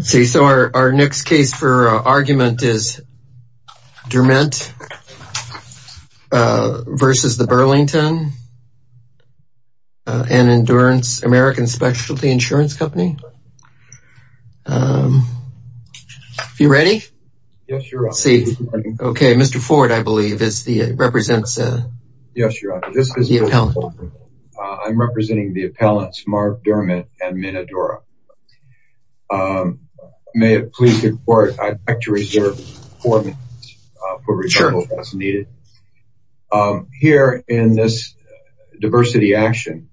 See, so our next case for argument is Durment v. Burlington and Endurance American Specialty Insurance Company. Are you ready? Yes, your honor. Okay, Mr. Ford, I believe, represents the appellant. I'm representing the appellants, Mark Durment and Min Adora. May it please the court, I'd like to reserve four minutes for research as needed. Here in this diversity action,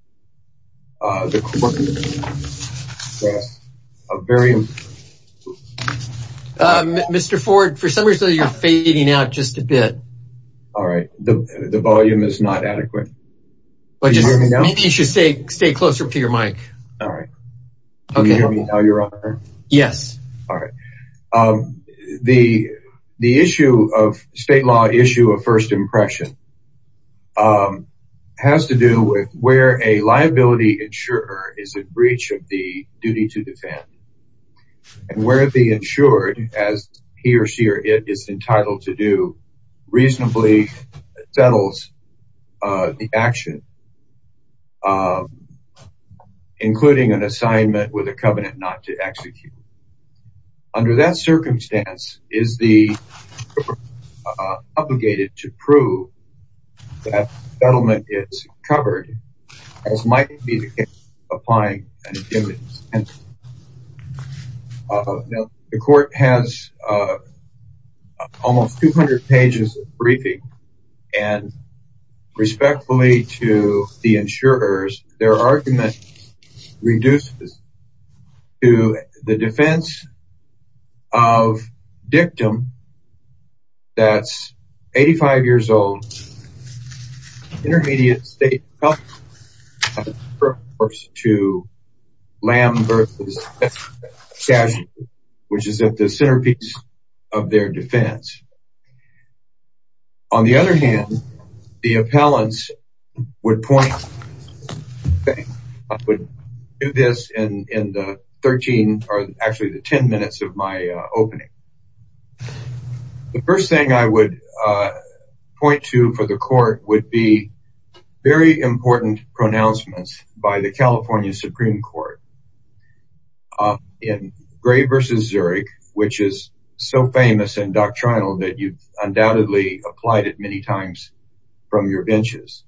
the court... Mr. Ford, for some reason you're fading out just a bit. All right, the volume is not adequate. Maybe you should stay closer to your mic. All right. Can you hear me now, your honor? Yes. All right. The state law issue of first impression has to do with where a liability insurer is in duty to defend and where the insured, as he or she or it is entitled to do, reasonably settles the action, including an assignment with a covenant not to execute. Under that circumstance, is the court obligated to prove that the settlement is covered as might be the case applying an intended incentive? Now, the court has almost 200 pages of briefing and respectfully to the insurers, their argument reduces to the defense of dictum. That's 85 years old, intermediate state to lamb versus casualty, which is at the centerpiece of their defense. On the other hand, the appellants would point... I would do this in the 13 or actually the 10 minutes of my opening. The first thing I would point to for the court would be very important pronouncements by the so famous and doctrinal that you've undoubtedly applied it many times from your benches.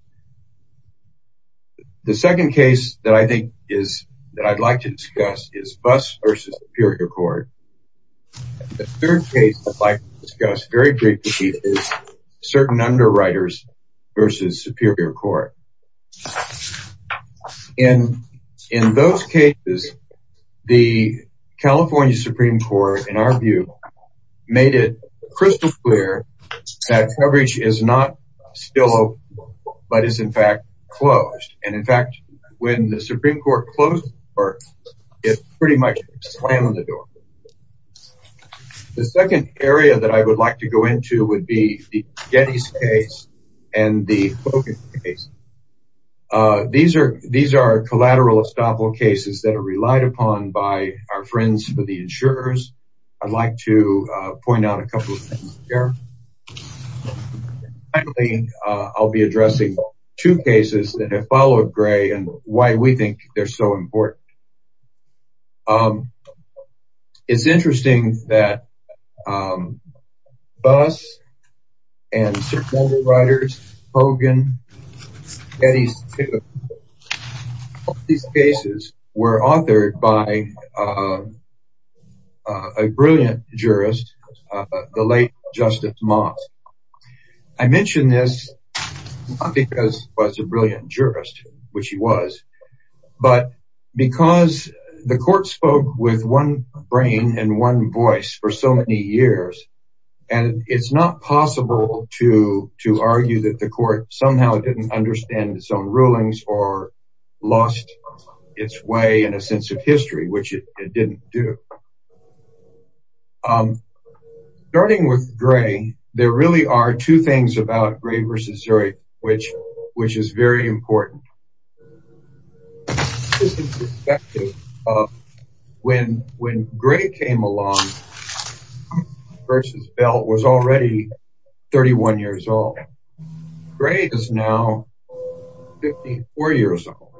The second case that I think is that I'd like to discuss is Buss versus Superior Court. The third case I'd like to discuss very briefly is certain underwriters versus Superior Court. In those cases, the California Supreme Court, in our view, made it crystal clear that coverage is not still open, but it's in fact closed. And in fact, when the Supreme Court closed the court, it pretty much slammed the door. The second area that I would like to go into would be Getty's case and the Hogan case. These are collateral estoppel cases that are relied upon by our friends for the insurers. I'd like to point out a couple of things here. Finally, I'll be addressing two cases that have followed Gray and why we think they're so important. Certain underwriters, Hogan, Getty's, these cases were authored by a brilliant jurist, the late Justice Mott. I mention this not because he was a brilliant jurist, which he was, but because the court spoke with one brain and one voice for so many years, and it's not possible to argue that the court somehow didn't understand its own rulings or lost its way in a sense of history, which it didn't do. Starting with Gray, there really are two things about Gray versus Zurich, which is very important. First, when Gray came along versus Belt was already 31 years old. Gray is now 54 years old,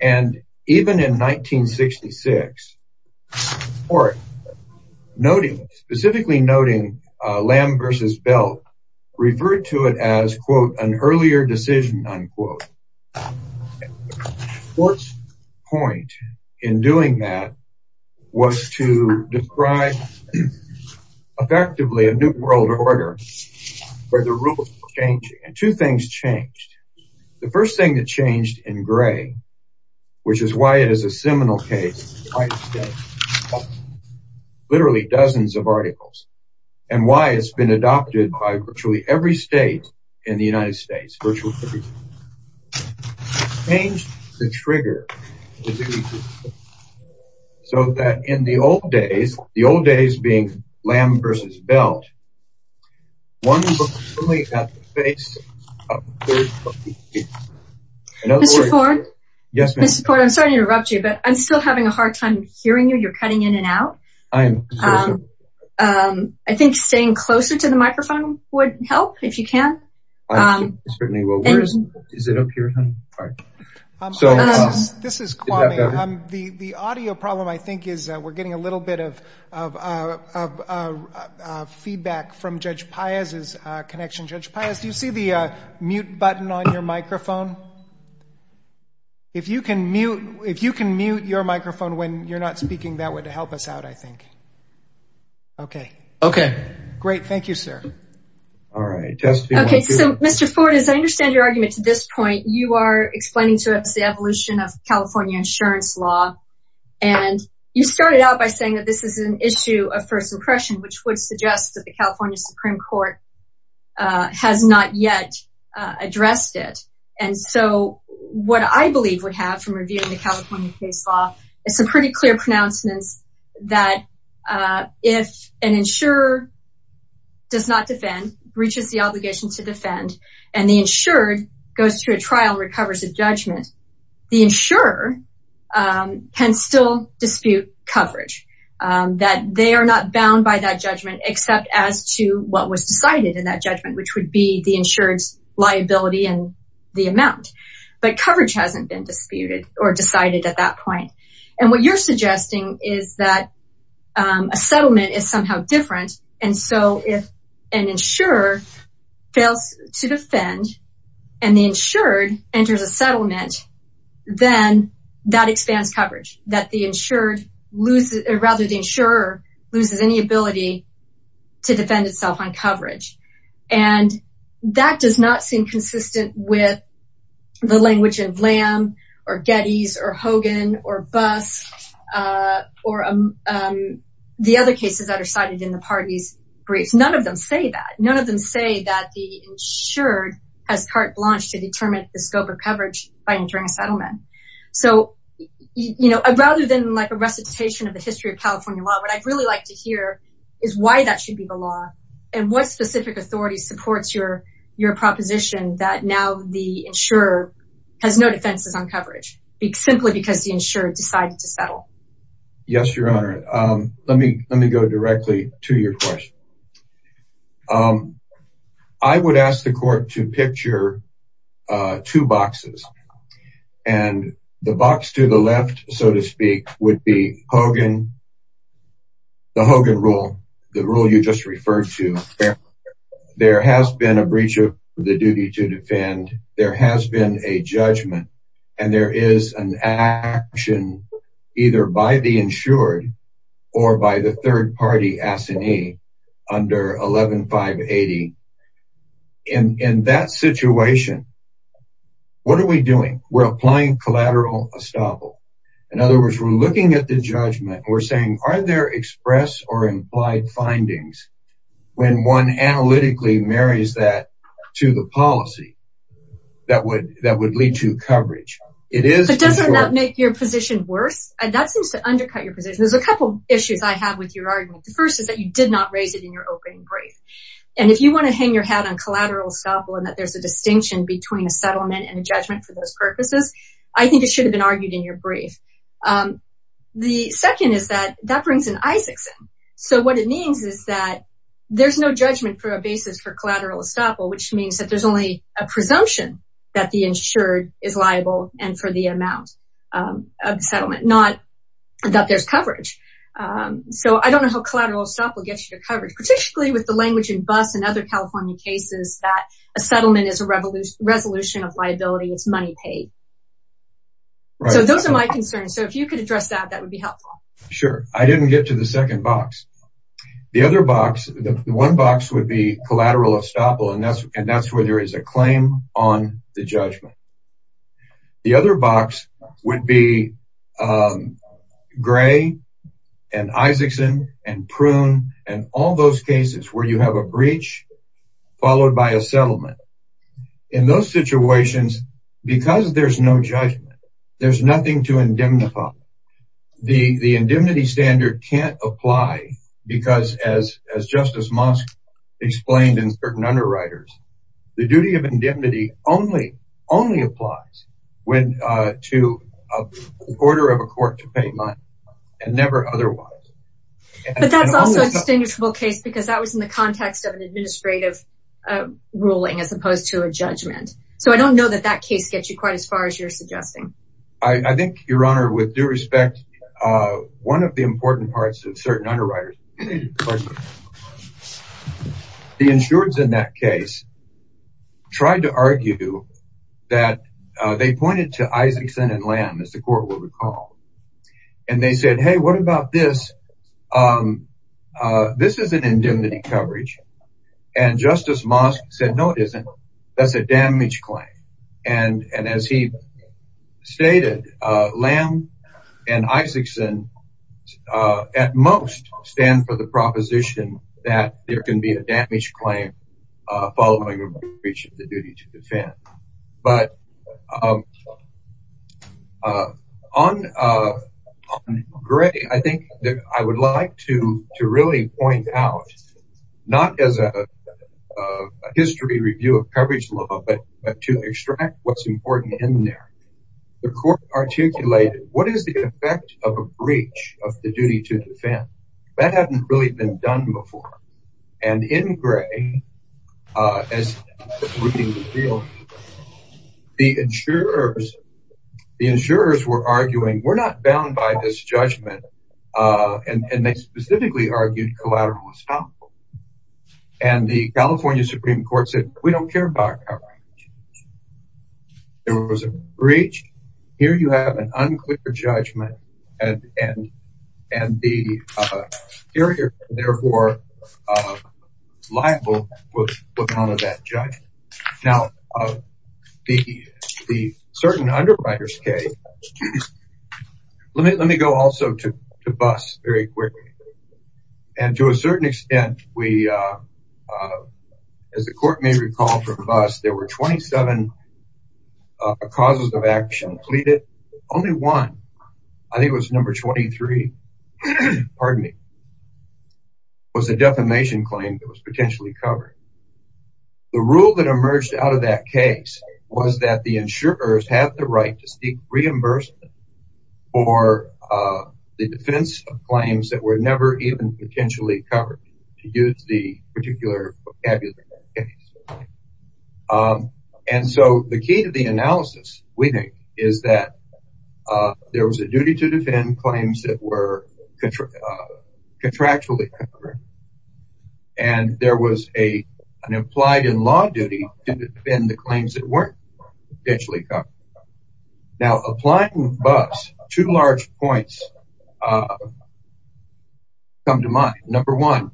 and even in 1966, the court specifically noting Lamb versus Belt referred to it as an earlier decision. The court's point in doing that was to describe effectively a new world order where the rules were changing, and two things changed. The first thing that changed in Gray, which is why it is a seminal case, literally dozens of articles, and why it's been adopted by virtually every state in the United States, virtually every state, changed the trigger so that in the old days, the old days being Lamb versus Belt, one was only at the face of the third. Mr. Ford? Yes, ma'am. Mr. Ford, I'm sorry to interrupt you, but I'm still having a hard time hearing you. You're cutting in and out. I am. I think staying closer to the microphone would help if you can. Certainly. Is it up here? This is Kwame. The audio problem, I think, is we're getting a little bit of feedback from Judge Paez's connection. Judge Paez, do you see the mute button on your microphone? If you can mute your microphone when you're not speaking, that would help us out, I think. Okay. Okay. Great. Thank you, sir. All right. Okay. So, Mr. Ford, as I understand your argument to this point, you are explaining to us the evolution of California insurance law, and you started out by saying that this is an issue of first impression, which would suggest that the California Supreme Court has not yet addressed it. And so, what I believe would have revealed in the California case law is some pretty clear pronouncements that if an insurer does not defend, breaches the obligation to defend, and the insured goes through a trial and recovers a judgment, the insurer can still dispute coverage, that they are not bound by that judgment except as to what was decided in that judgment, which would be the insured's liability and the amount. But coverage hasn't been disputed or decided at that point. And what you're suggesting is that a settlement is somehow different. And so, if an insurer fails to defend and the insured enters a settlement, then that expands coverage, that the insured loses, or rather the insurer loses any ability to defend itself on coverage. And that does not seem consistent with the language of Lamb, or Gettys, or Hogan, or Buss, or the other cases that are cited in the party's briefs. None of them say that. None of them say that the insured has carte blanche to determine the scope of coverage by entering a settlement. So, rather than like a recitation of the history of California law, what I'd really like to hear is why that should be the law, and what specific authority supports your proposition that now the insurer has no defenses on coverage, simply because the insured decided to settle. Yes, Your Honor. Let me go directly to your question. I would ask the court to picture two boxes. And the box to the left, so to speak, would be Hogan, the Hogan rule, the rule you just referred to. There has been a breach of the duty to defend. There has been a judgment. And there is an action either by the insured or by the third party assignee under 11-580. In that situation, what are we doing? We're applying collateral estoppel. In other words, we're looking at the judgment. We're saying, are there express or implied findings when one analytically marries that to the policy that would lead to coverage? But doesn't that make your position worse? That seems to undercut your position. There's a couple issues I have with your argument. The first is that you did not raise it in your opening brief. And if you want to hang your hat on collateral estoppel, and that there's a distinction between a settlement and a judgment for those purposes, I think it should have been argued in your brief. The second is that that brings in Isaacson. So what it means is that there's no judgment for a basis for collateral estoppel, which means that there's only a presumption that the insured is liable and for the amount of settlement, not that there's coverage. So I don't know how collateral estoppel gets you coverage, particularly with the language in BUS and other California cases that a settlement is a resolution of liability. It's money paid. So those are my concerns. So if you could address that, that would be helpful. Sure. I didn't get to the second box. The other box, the one box would be collateral estoppel, and that's where there is a claim on the judgment. The other box would be and Isaacson and Prune and all those cases where you have a breach followed by a settlement. In those situations, because there's no judgment, there's nothing to indemnify. The indemnity standard can't apply because as Justice Mosk explained in certain underwriters, the duty of indemnity only applies when to order of a court to pay money and never otherwise. But that's also a distinguishable case because that was in the context of an administrative ruling as opposed to a judgment. So I don't know that that case gets you quite as far as you're suggesting. I think, Your Honor, with due respect, one of the important parts of certain tried to argue that they pointed to Isaacson and Lamb, as the court would recall, and they said, hey, what about this? This is an indemnity coverage. And Justice Mosk said, no, it isn't. That's a damage claim. And as he stated, Lamb and Isaacson at most stand for the duty to defend. But on Gray, I think that I would like to really point out, not as a history review of coverage law, but to extract what's important in there. The court articulated what is the effect of a breach of the duty to defend. That hadn't really been done before. And in Gray, as the insurers were arguing, we're not bound by this judgment. And they specifically argued collateral estoppel. And the California Supreme Court said, we don't care about coverage. There was a breach. Here you have an unclear judgment. And the carrier, therefore, liable, was put on to that judge. Now, the certain underwriters came. Let me go also to Buss very quickly. And to a certain extent, we, as the court may recall from Buss, there were 27 causes of action pleaded. Only one, I think it was number 23, pardon me, was a defamation claim that was potentially covered. The rule that emerged out of that case was that the insurers had the right to seek reimbursement for the defense of claims that were never even potentially covered, to use the particular vocabulary. And so the key to the analysis, we think, is that there was a duty to defend claims that were contractually covered. And there was an implied in law duty to defend the claims that were potentially covered. Now, applying Buss, two large points come to mind. Number one,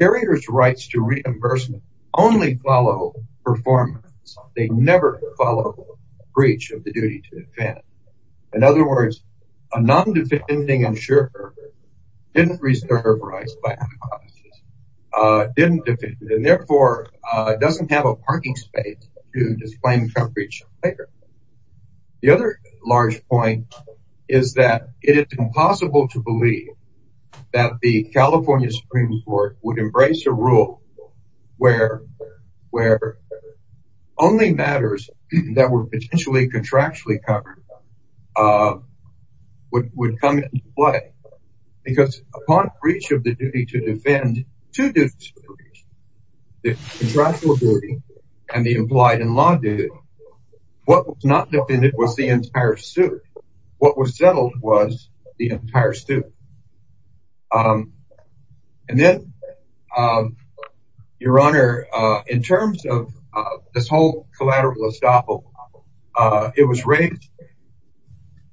carriers' rights to reimbursement only follow performance. They never follow breach of the duty to defend. In other words, a non-defending insurer didn't reserve rights by hypothesis, didn't defend, and therefore doesn't have a parking space to disclaim a breach. The other large point is that it is impossible to believe that the California Supreme Court would embrace a rule where only matters that were potentially contractually covered would come into play. Because upon breach of the duty to defend, two duties were breached, the contractual duty and the implied in law duty. What was not defended was the entire suit. What was settled was the entire suit. And then, Your Honor, in terms of this whole collateral estoppel, it was raised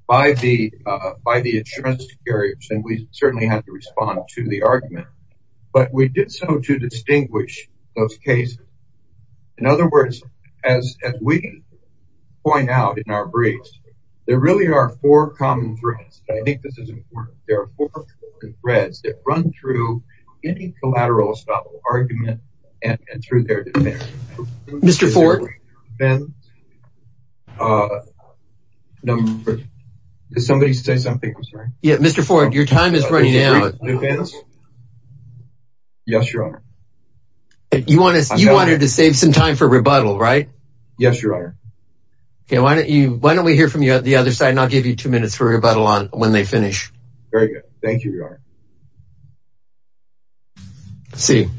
by the insurance carriers, and we certainly had to respond to the argument. But we did so to distinguish those cases. In other words, as we point out in our briefs, there really are four common threads. I think this is important. There are four common threads that run through any collateral estoppel argument and through their defense. Mr. Ford, your time is running out. Yes, Your Honor. You wanted to save some time for rebuttal, right? Yes, Your Honor. Okay, why don't we hear from you at the other side, and I'll give you two minutes for rebuttal on when they finish. Very good. Thank you, Your Honor. Let's see.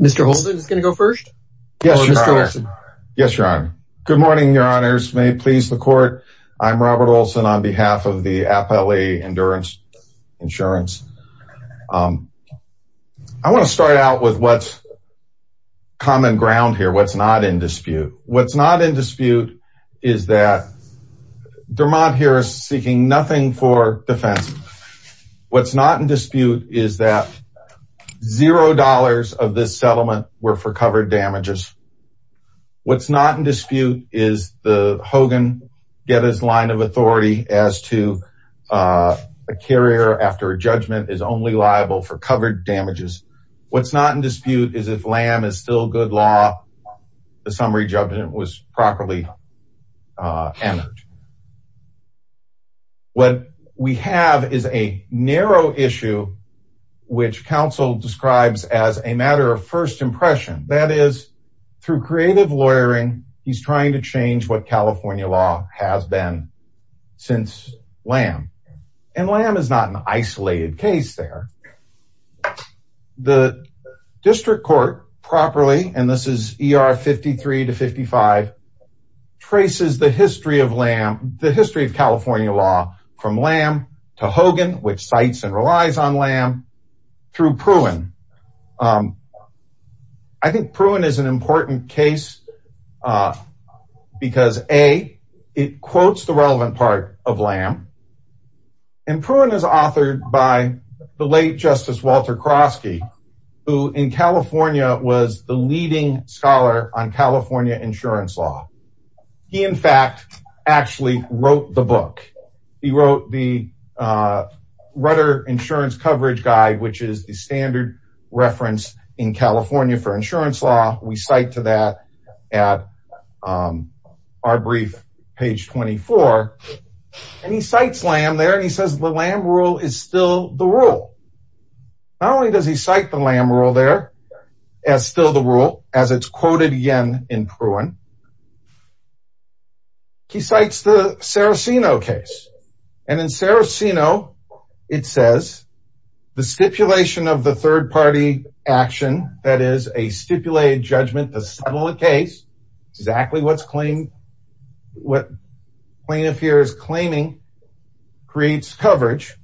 Mr. Holden is going to go first. Yes, Your Honor. Good morning, Your Honors. May it please the court, I'm Robert Olson on behalf of the Appellee Endurance Insurance. I want to start out with what's common ground here, what's not in dispute. What's not in dispute is that Dermott here is seeking nothing for defense. What's not in dispute is that zero dollars of this settlement were for covered damages. What's not in dispute is the Hogan Getty's line of authority as to a carrier after a judgment is only liable for covered damages. What's not in dispute is if Lamb is still good law, the summary judgment was properly entered. What we have is a narrow issue, which counsel describes as a matter of first impression. That is, through creative lawyering, he's trying to change what California law has been since Lamb. And Lamb is not an isolated case there. The district court properly, and this is ER 53 to 55, traces the history of Lamb, the history of California law from Lamb to Hogan, which cites and relies on Lamb, through Pruin. I think Pruin is an important case because, A, it quotes the relevant part of Lamb. And Pruin is authored by the late Justice Walter Krosky, who in California was the leading scholar on California insurance law. He, in fact, actually wrote the book. He wrote the Rudder Insurance Coverage Guide, which is the standard reference in California for insurance law. We cite to that at our brief, page 24. And he cites Lamb there, and he says the Lamb rule is still the rule. Not only does he cite the Lamb rule there as still the rule, as it's quoted again in Pruin, he cites the Saraceno case. And in Saraceno, it says, the stipulation of the third party action, that is a stipulated judgment to settle a case, exactly what plaintiff here is claiming, creates coverage,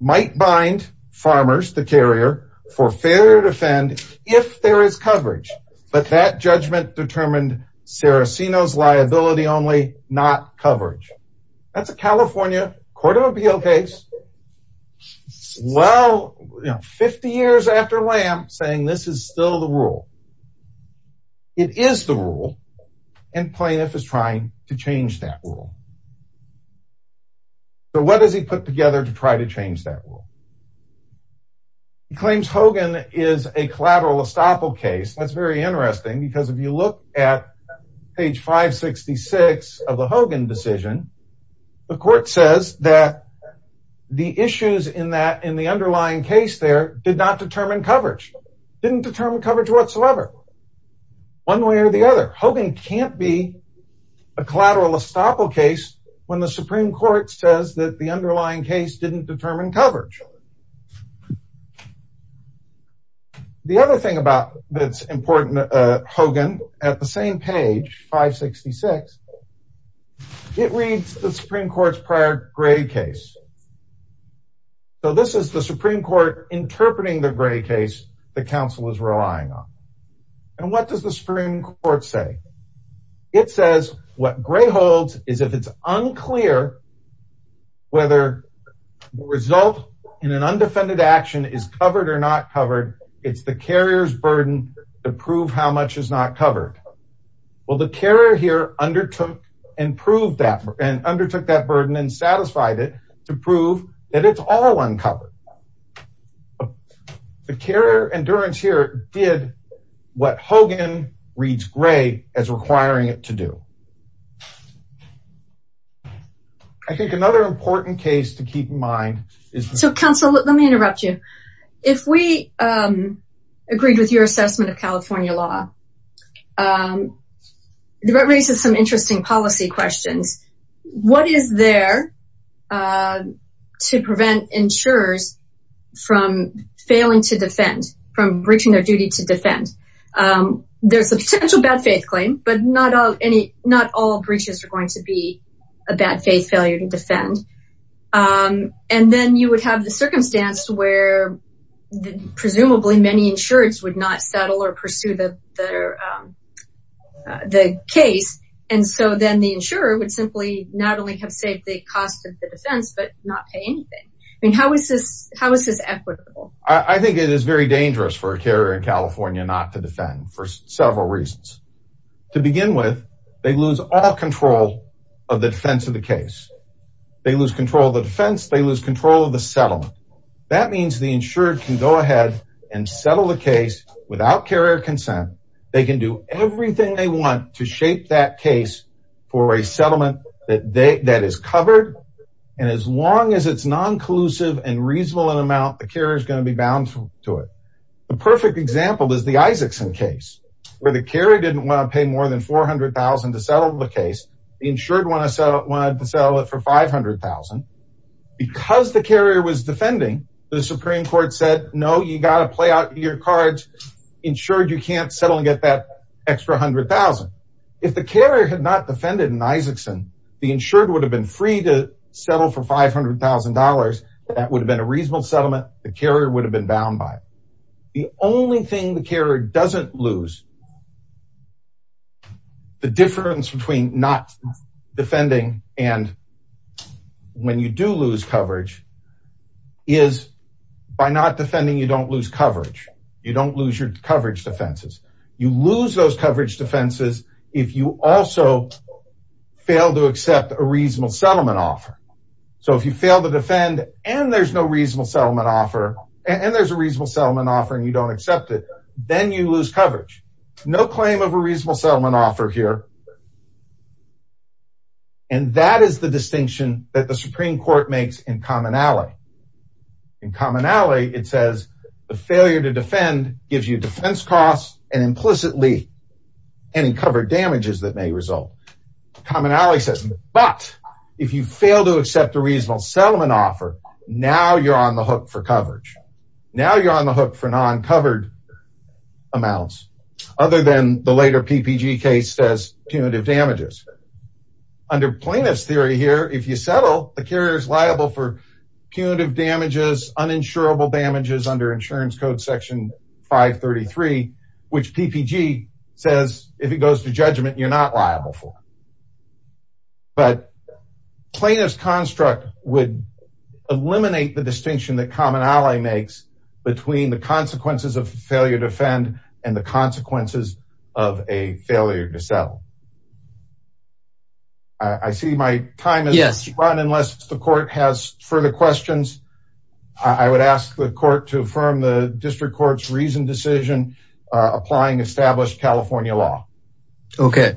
might bind farmers, the carrier, for failure to fend if there is coverage. But that judgment determined Saraceno's liability only, not coverage. That's a California Court of Appeal case, well, you know, 50 years after Lamb, saying this is still the rule. It is the rule, and plaintiff is trying to change that rule. So what does he put together to try to change that rule? He claims Hogan is a collateral estoppel case. That's very interesting because if you look at page 566 of the Hogan decision, the court says that the issues in the underlying case there did not determine coverage, didn't determine coverage whatsoever. One way or the other, Hogan can't be a collateral estoppel case when the Supreme Court says that the underlying case didn't determine coverage. The other thing that's important, Hogan, at the same page, 566, it reads the Supreme Court's prior gray case. So this is the Supreme Court interpreting the gray case the counsel is relying on. And what does the Supreme Court say? It says what gray holds is if it's unclear whether the result in an undefended action is covered or not covered, it's the carrier's burden to prove how much is not covered. Well, the carrier here undertook and proved that and undertook that burden and satisfied it to prove that it's all uncovered. The carrier endurance here did what Hogan reads gray as requiring it to do. I think another important case to keep in mind is... So counsel, let me interrupt you. If we agreed with your assessment of California law, that raises some interesting policy questions. What is there to prevent insurers from failing to defend, from breaching their duty to defend? There's a potential bad faith claim, but not all breaches are going to be a bad faith failure to defend. And then you would have the circumstance where presumably many insureds would not settle or pursue the case. And so then the insurer would simply not only have saved the cost of the defense, but not pay anything. I mean, how is this equitable? I think it is very dangerous for a carrier in California not to defend for several reasons. To begin with, they lose all control of the defense of the case. They lose control of the defense. They lose control of the settlement. That means the insured can go ahead and settle the case without carrier consent. They can do everything they want to shape that case for a settlement that is covered. And as long as it's non-collusive and reasonable in amount, the carrier is going to be bound to it. The perfect example is the Isaacson case, where the carrier didn't want to pay more than $400,000 to settle the case. The insured wanted to settle it for $500,000. Because the carrier was defending, the Supreme Court said, no, you got to play out your cards. Insured, you can't settle and get that extra $100,000. If the carrier had not defended in Isaacson, the insured would have been free to settle for $500,000. That would have been a bound by it. The only thing the carrier doesn't lose, the difference between not defending and when you do lose coverage, is by not defending, you don't lose coverage. You don't lose your coverage defenses. You lose those coverage defenses if you also fail to accept a reasonable settlement offer. And there's a reasonable settlement offer and you don't accept it. Then you lose coverage. No claim of a reasonable settlement offer here. And that is the distinction that the Supreme Court makes in commonality. In commonality, it says the failure to defend gives you defense costs and implicitly any covered damages that may result. Commonality says, but if you fail to accept a reasonable settlement offer, now you're on the hook for coverage. Now you're on the hook for non-covered amounts other than the later PPG case says punitive damages. Under plaintiff's theory here, if you settle, the carrier is liable for punitive damages, uninsurable damages under insurance code section 533, which PPG says, if it goes to judgment, you're not liable for. But plaintiff's construct would eliminate the distinction that commonality makes between the consequences of failure to defend and the consequences of a failure to settle. I see my time has run unless the court has further questions. I would ask the court to affirm the district court's reasoned decision applying established California law. Okay.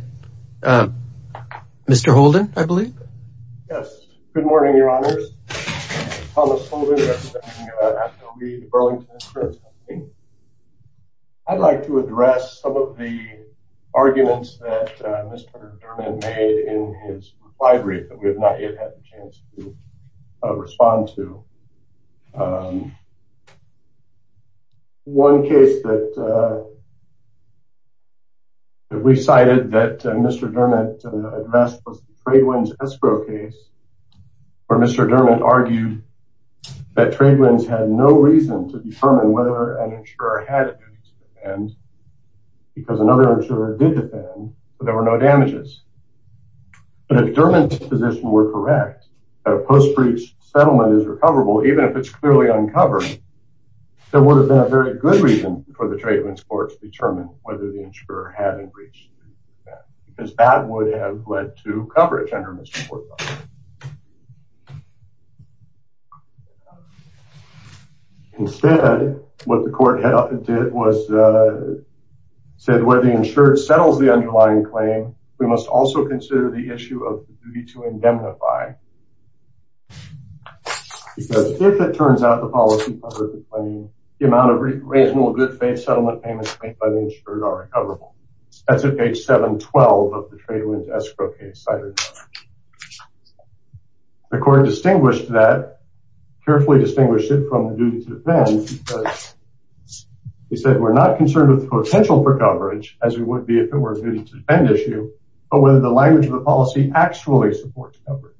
Mr. Holden, I believe. Yes. Good morning, your honors. I'd like to address some of the arguments that Mr. Dermott made in his reply brief that we have not yet had the chance to respond to. One case that we cited that Mr. Dermott addressed was the Tradewinds escrow case, where Mr. Dermott argued that Tradewinds had no reason to determine whether an insurer had a duty to defend because another insurer did defend, but there were no damages. But if Dermott's position were correct, a post-breach settlement is recoverable, even if it's clearly uncovered. There would have been a very good reason for the Tradewinds courts to determine whether the insurer had a breach because that would have led to coverage. Instead, what the court did was said where the insured settles the underlying claim, we must also consider the issue of the duty to indemnify, because if it turns out the policy covers the claim, the amount of reasonable good faith settlement payments made by the insured are recoverable. That's at page 712 of the Tradewinds escrow case cited. The court distinguished that, carefully distinguished it from the duty to defend because he said we're not concerned with the potential for coverage as we would be if it were a duty to defend issue, but whether the language of the policy actually supports coverage.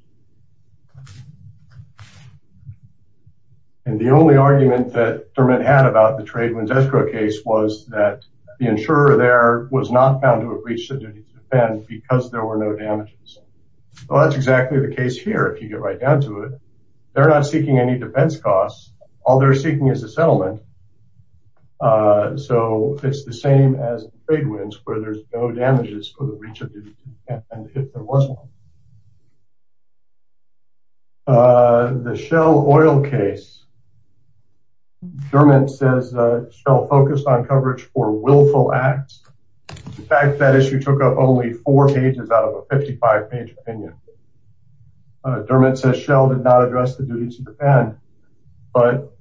And the only argument that Dermott had about the Tradewinds escrow case was that the insurer there was not found to have breached the duty to defend because there were no damages. Well, that's exactly the case here. If you get right down to it, they're not seeking any defense costs. All they're seeking is a settlement. So it's the same as the Tradewinds where there's no damages for the breach of duty and if there was one. The Shell oil case, Dermott says Shell focused on coverage for willful acts. In fact, that issue took up only four pages out of a 55 page opinion. Dermott says Shell did not address the duty to defend, but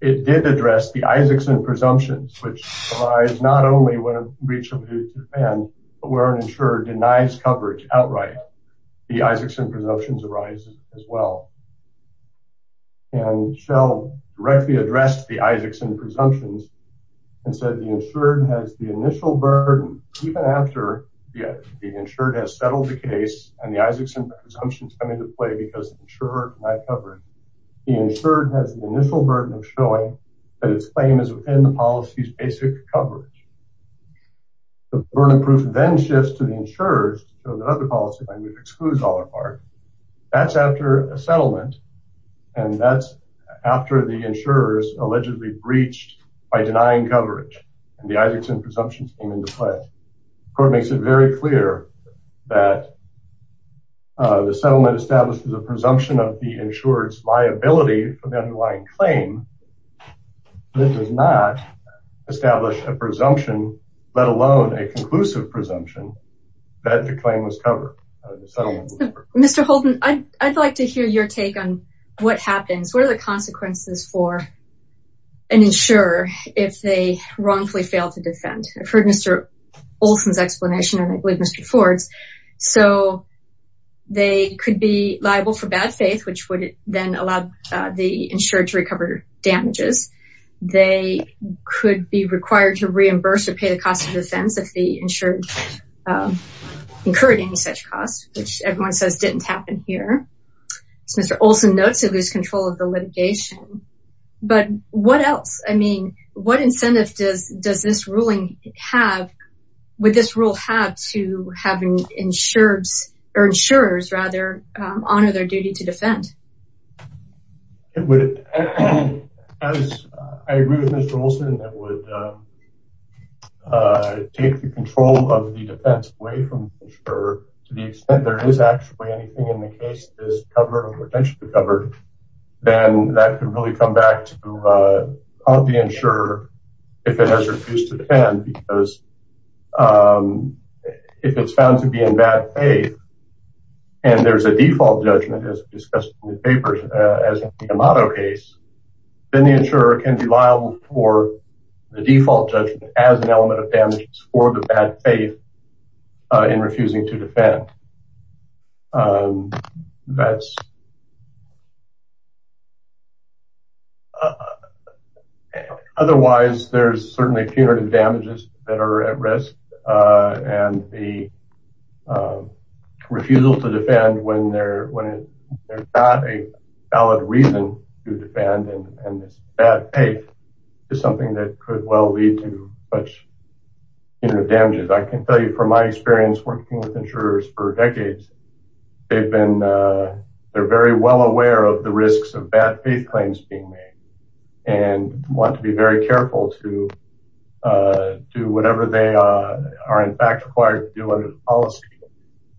it did address the Isakson presumptions which arise not only when a breach of duty to defend, but where an insurer denies coverage outright. The Isakson presumptions arise as well. And Shell directly addressed the Isakson presumptions and said the insured has the initial burden even after the insured has settled the case and the Isakson presumptions come into play because the insured denied coverage. The insured has the initial burden of showing that its claim is within the policy's basic coverage. The burden of proof then shifts to the insurers so that other policy might be excluded all apart. That's after a settlement and that's after the insurers allegedly breached by denying coverage and the Isakson presumptions came into play. The court makes it very clear that the settlement establishes a presumption of the insured's liability for the underlying claim. It does not establish a presumption, let alone a conclusive presumption, that the claim was covered. Mr. Holton, I'd like to hear your take on what happens. What are the consequences for an insurer if they wrongfully fail to defend? I've heard Mr. Olson's explanation and I believe Mr. Ford's. So they could be liable for bad faith, which would then allow the insured to recover damages. They could be required to reimburse or pay the cost of defense if the insured incurred any such cost, which everyone says didn't happen here. Mr. Olson notes they lose control of the litigation. But what else? I mean, what incentive does this ruling have, would this rule have to have insurers honor their duty to defend? I agree with Mr. Olson that it would take the control of the defense away from the insurer to the extent there is actually anything in the case that is covered or potentially covered, then that could really come back to the insurer if it has refused to defend because if it's found to be in bad faith and there's a default judgment as discussed in the papers as in the Amato case, then the insurer can be liable for the default judgment as an element of damages for the bad faith in refusing to defend. Otherwise, there's certainly punitive damages that are at risk and the refusal to defend when there's not a valid reason to defend and this bad faith is something that could well lead to punitive damages. I can tell you from my experience working with insurers for decades, they're very well aware of the risks of bad faith claims being made and want to be very careful to do whatever they are in fact required to do under the policy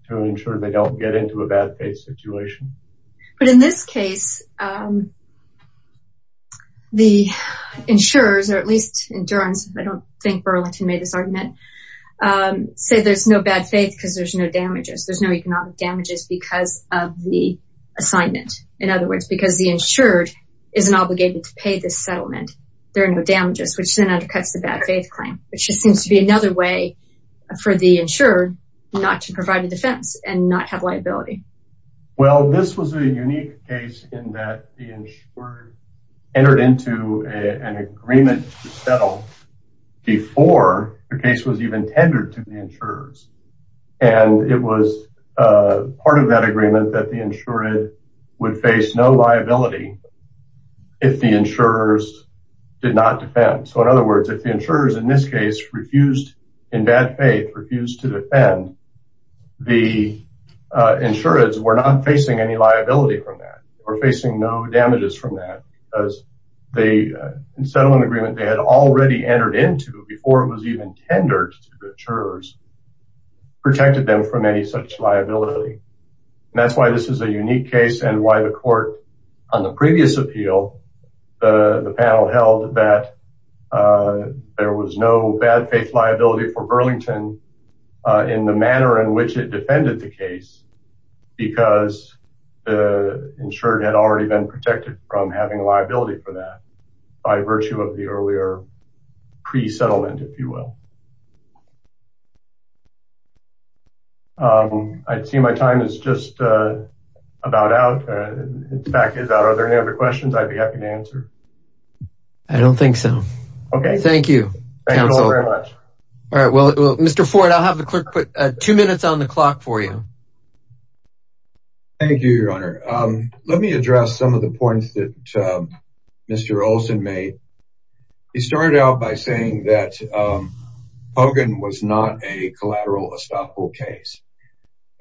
to ensure they don't get into a bad faith situation. But in this case, the insurers, or at least insurance, I don't think Burlington made this argument, say there's no bad faith because there's no damages. There's no economic damages because of the assignment. In other words, because the insured isn't obligated to pay this settlement, there are no damages, which then undercuts the bad faith claim, which just seems to be another way for the insured not to provide a defense and not have liability. Well, this was a unique case in that the insured entered into an agreement to settle before the case was even tendered to the insurers. And it was part of that agreement that the insured would face no liability if the insurers did not defend. So in other words, the insurers in this case refused, in bad faith, refused to defend. The insureds were not facing any liability from that or facing no damages from that because the settlement agreement they had already entered into before it was even tendered to the insurers protected them from any such liability. And that's why this is a unique case and why the court on the previous appeal, the panel held that there was no bad faith liability for Burlington in the manner in which it defended the case because the insured had already been protected from having liability for that by virtue of the earlier pre-settlement, if you will. I'd see my time is just about out. In fact, are there any other questions I'd be happy to answer? I don't think so. Okay. Thank you. Thank you all very much. All right. Well, Mr. Ford, I'll have the clerk put two minutes on the clock for you. Thank you, your honor. Let me address some of the points that Mr. Olson made. He started out by saying that Hogan was not a collateral estoppel case.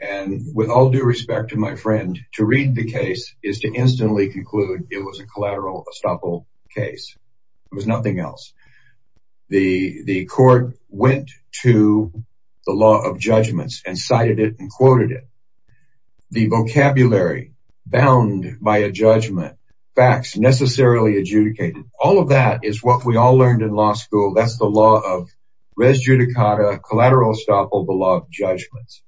And with all due respect to my friend, to read the case is to instantly conclude it was a collateral estoppel case. It was nothing else. The court went to the law of judgments and cited it and quoted it. The vocabulary bound by a judgment, facts necessarily adjudicated. All of that is what we all learned in law school. That's the law of res judicata, collateral estoppel, the law of judgments.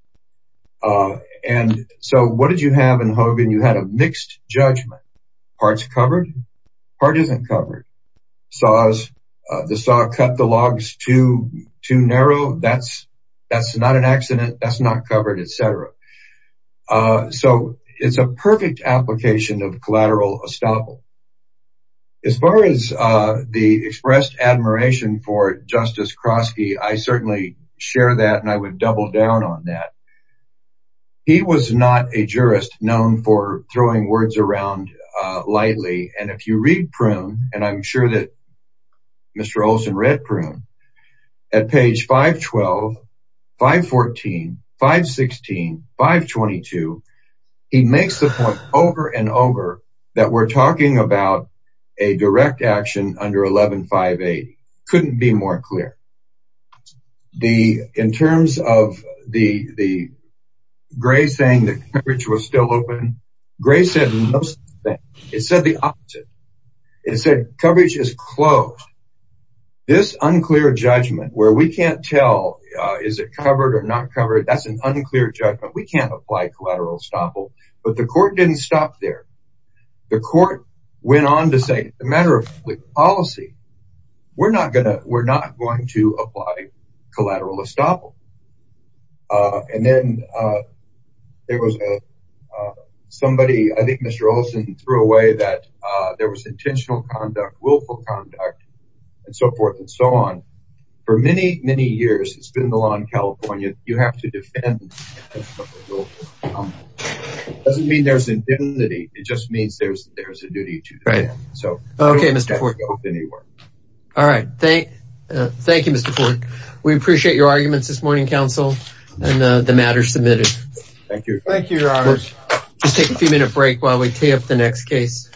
And so what did you have in Hogan? You had a mixed judgment. Parts covered, part isn't covered. The saw cut the logs too narrow. That's not an accident. That's not covered, etc. So it's a perfect application of collateral estoppel. As far as the expressed admiration for Justice Kroski, I certainly share that and I would double down on that. He was not a jurist known for throwing words around lightly. And if you read Prune, and I'm sure that Mr. Olson read Prune, at page 512, 514, 516, 522, he makes the point over and over that we're talking about a direct action under 1158. Couldn't be more clear. In terms of the Gray saying the coverage was still open, Gray said the opposite. It said coverage is closed. This unclear judgment where we can't tell is it covered or not covered, that's an unclear judgment. We can't apply collateral estoppel. But the court didn't stop there. The court went on to say the matter of policy, we're not going to apply collateral estoppel. And then there was a somebody, I think Mr. Olson threw away that there was intentional conduct, willful conduct, and so forth and so on. For many, many years, it's been the law in California, you have to defend. It doesn't mean there's indignity, it just means there's a duty to defend. All right. Thank you, Mr. Fork. We appreciate your arguments this morning, counsel, and the matter submitted. Thank you. Thank you, your honors. Let's take a few minute break while we tee up the next case.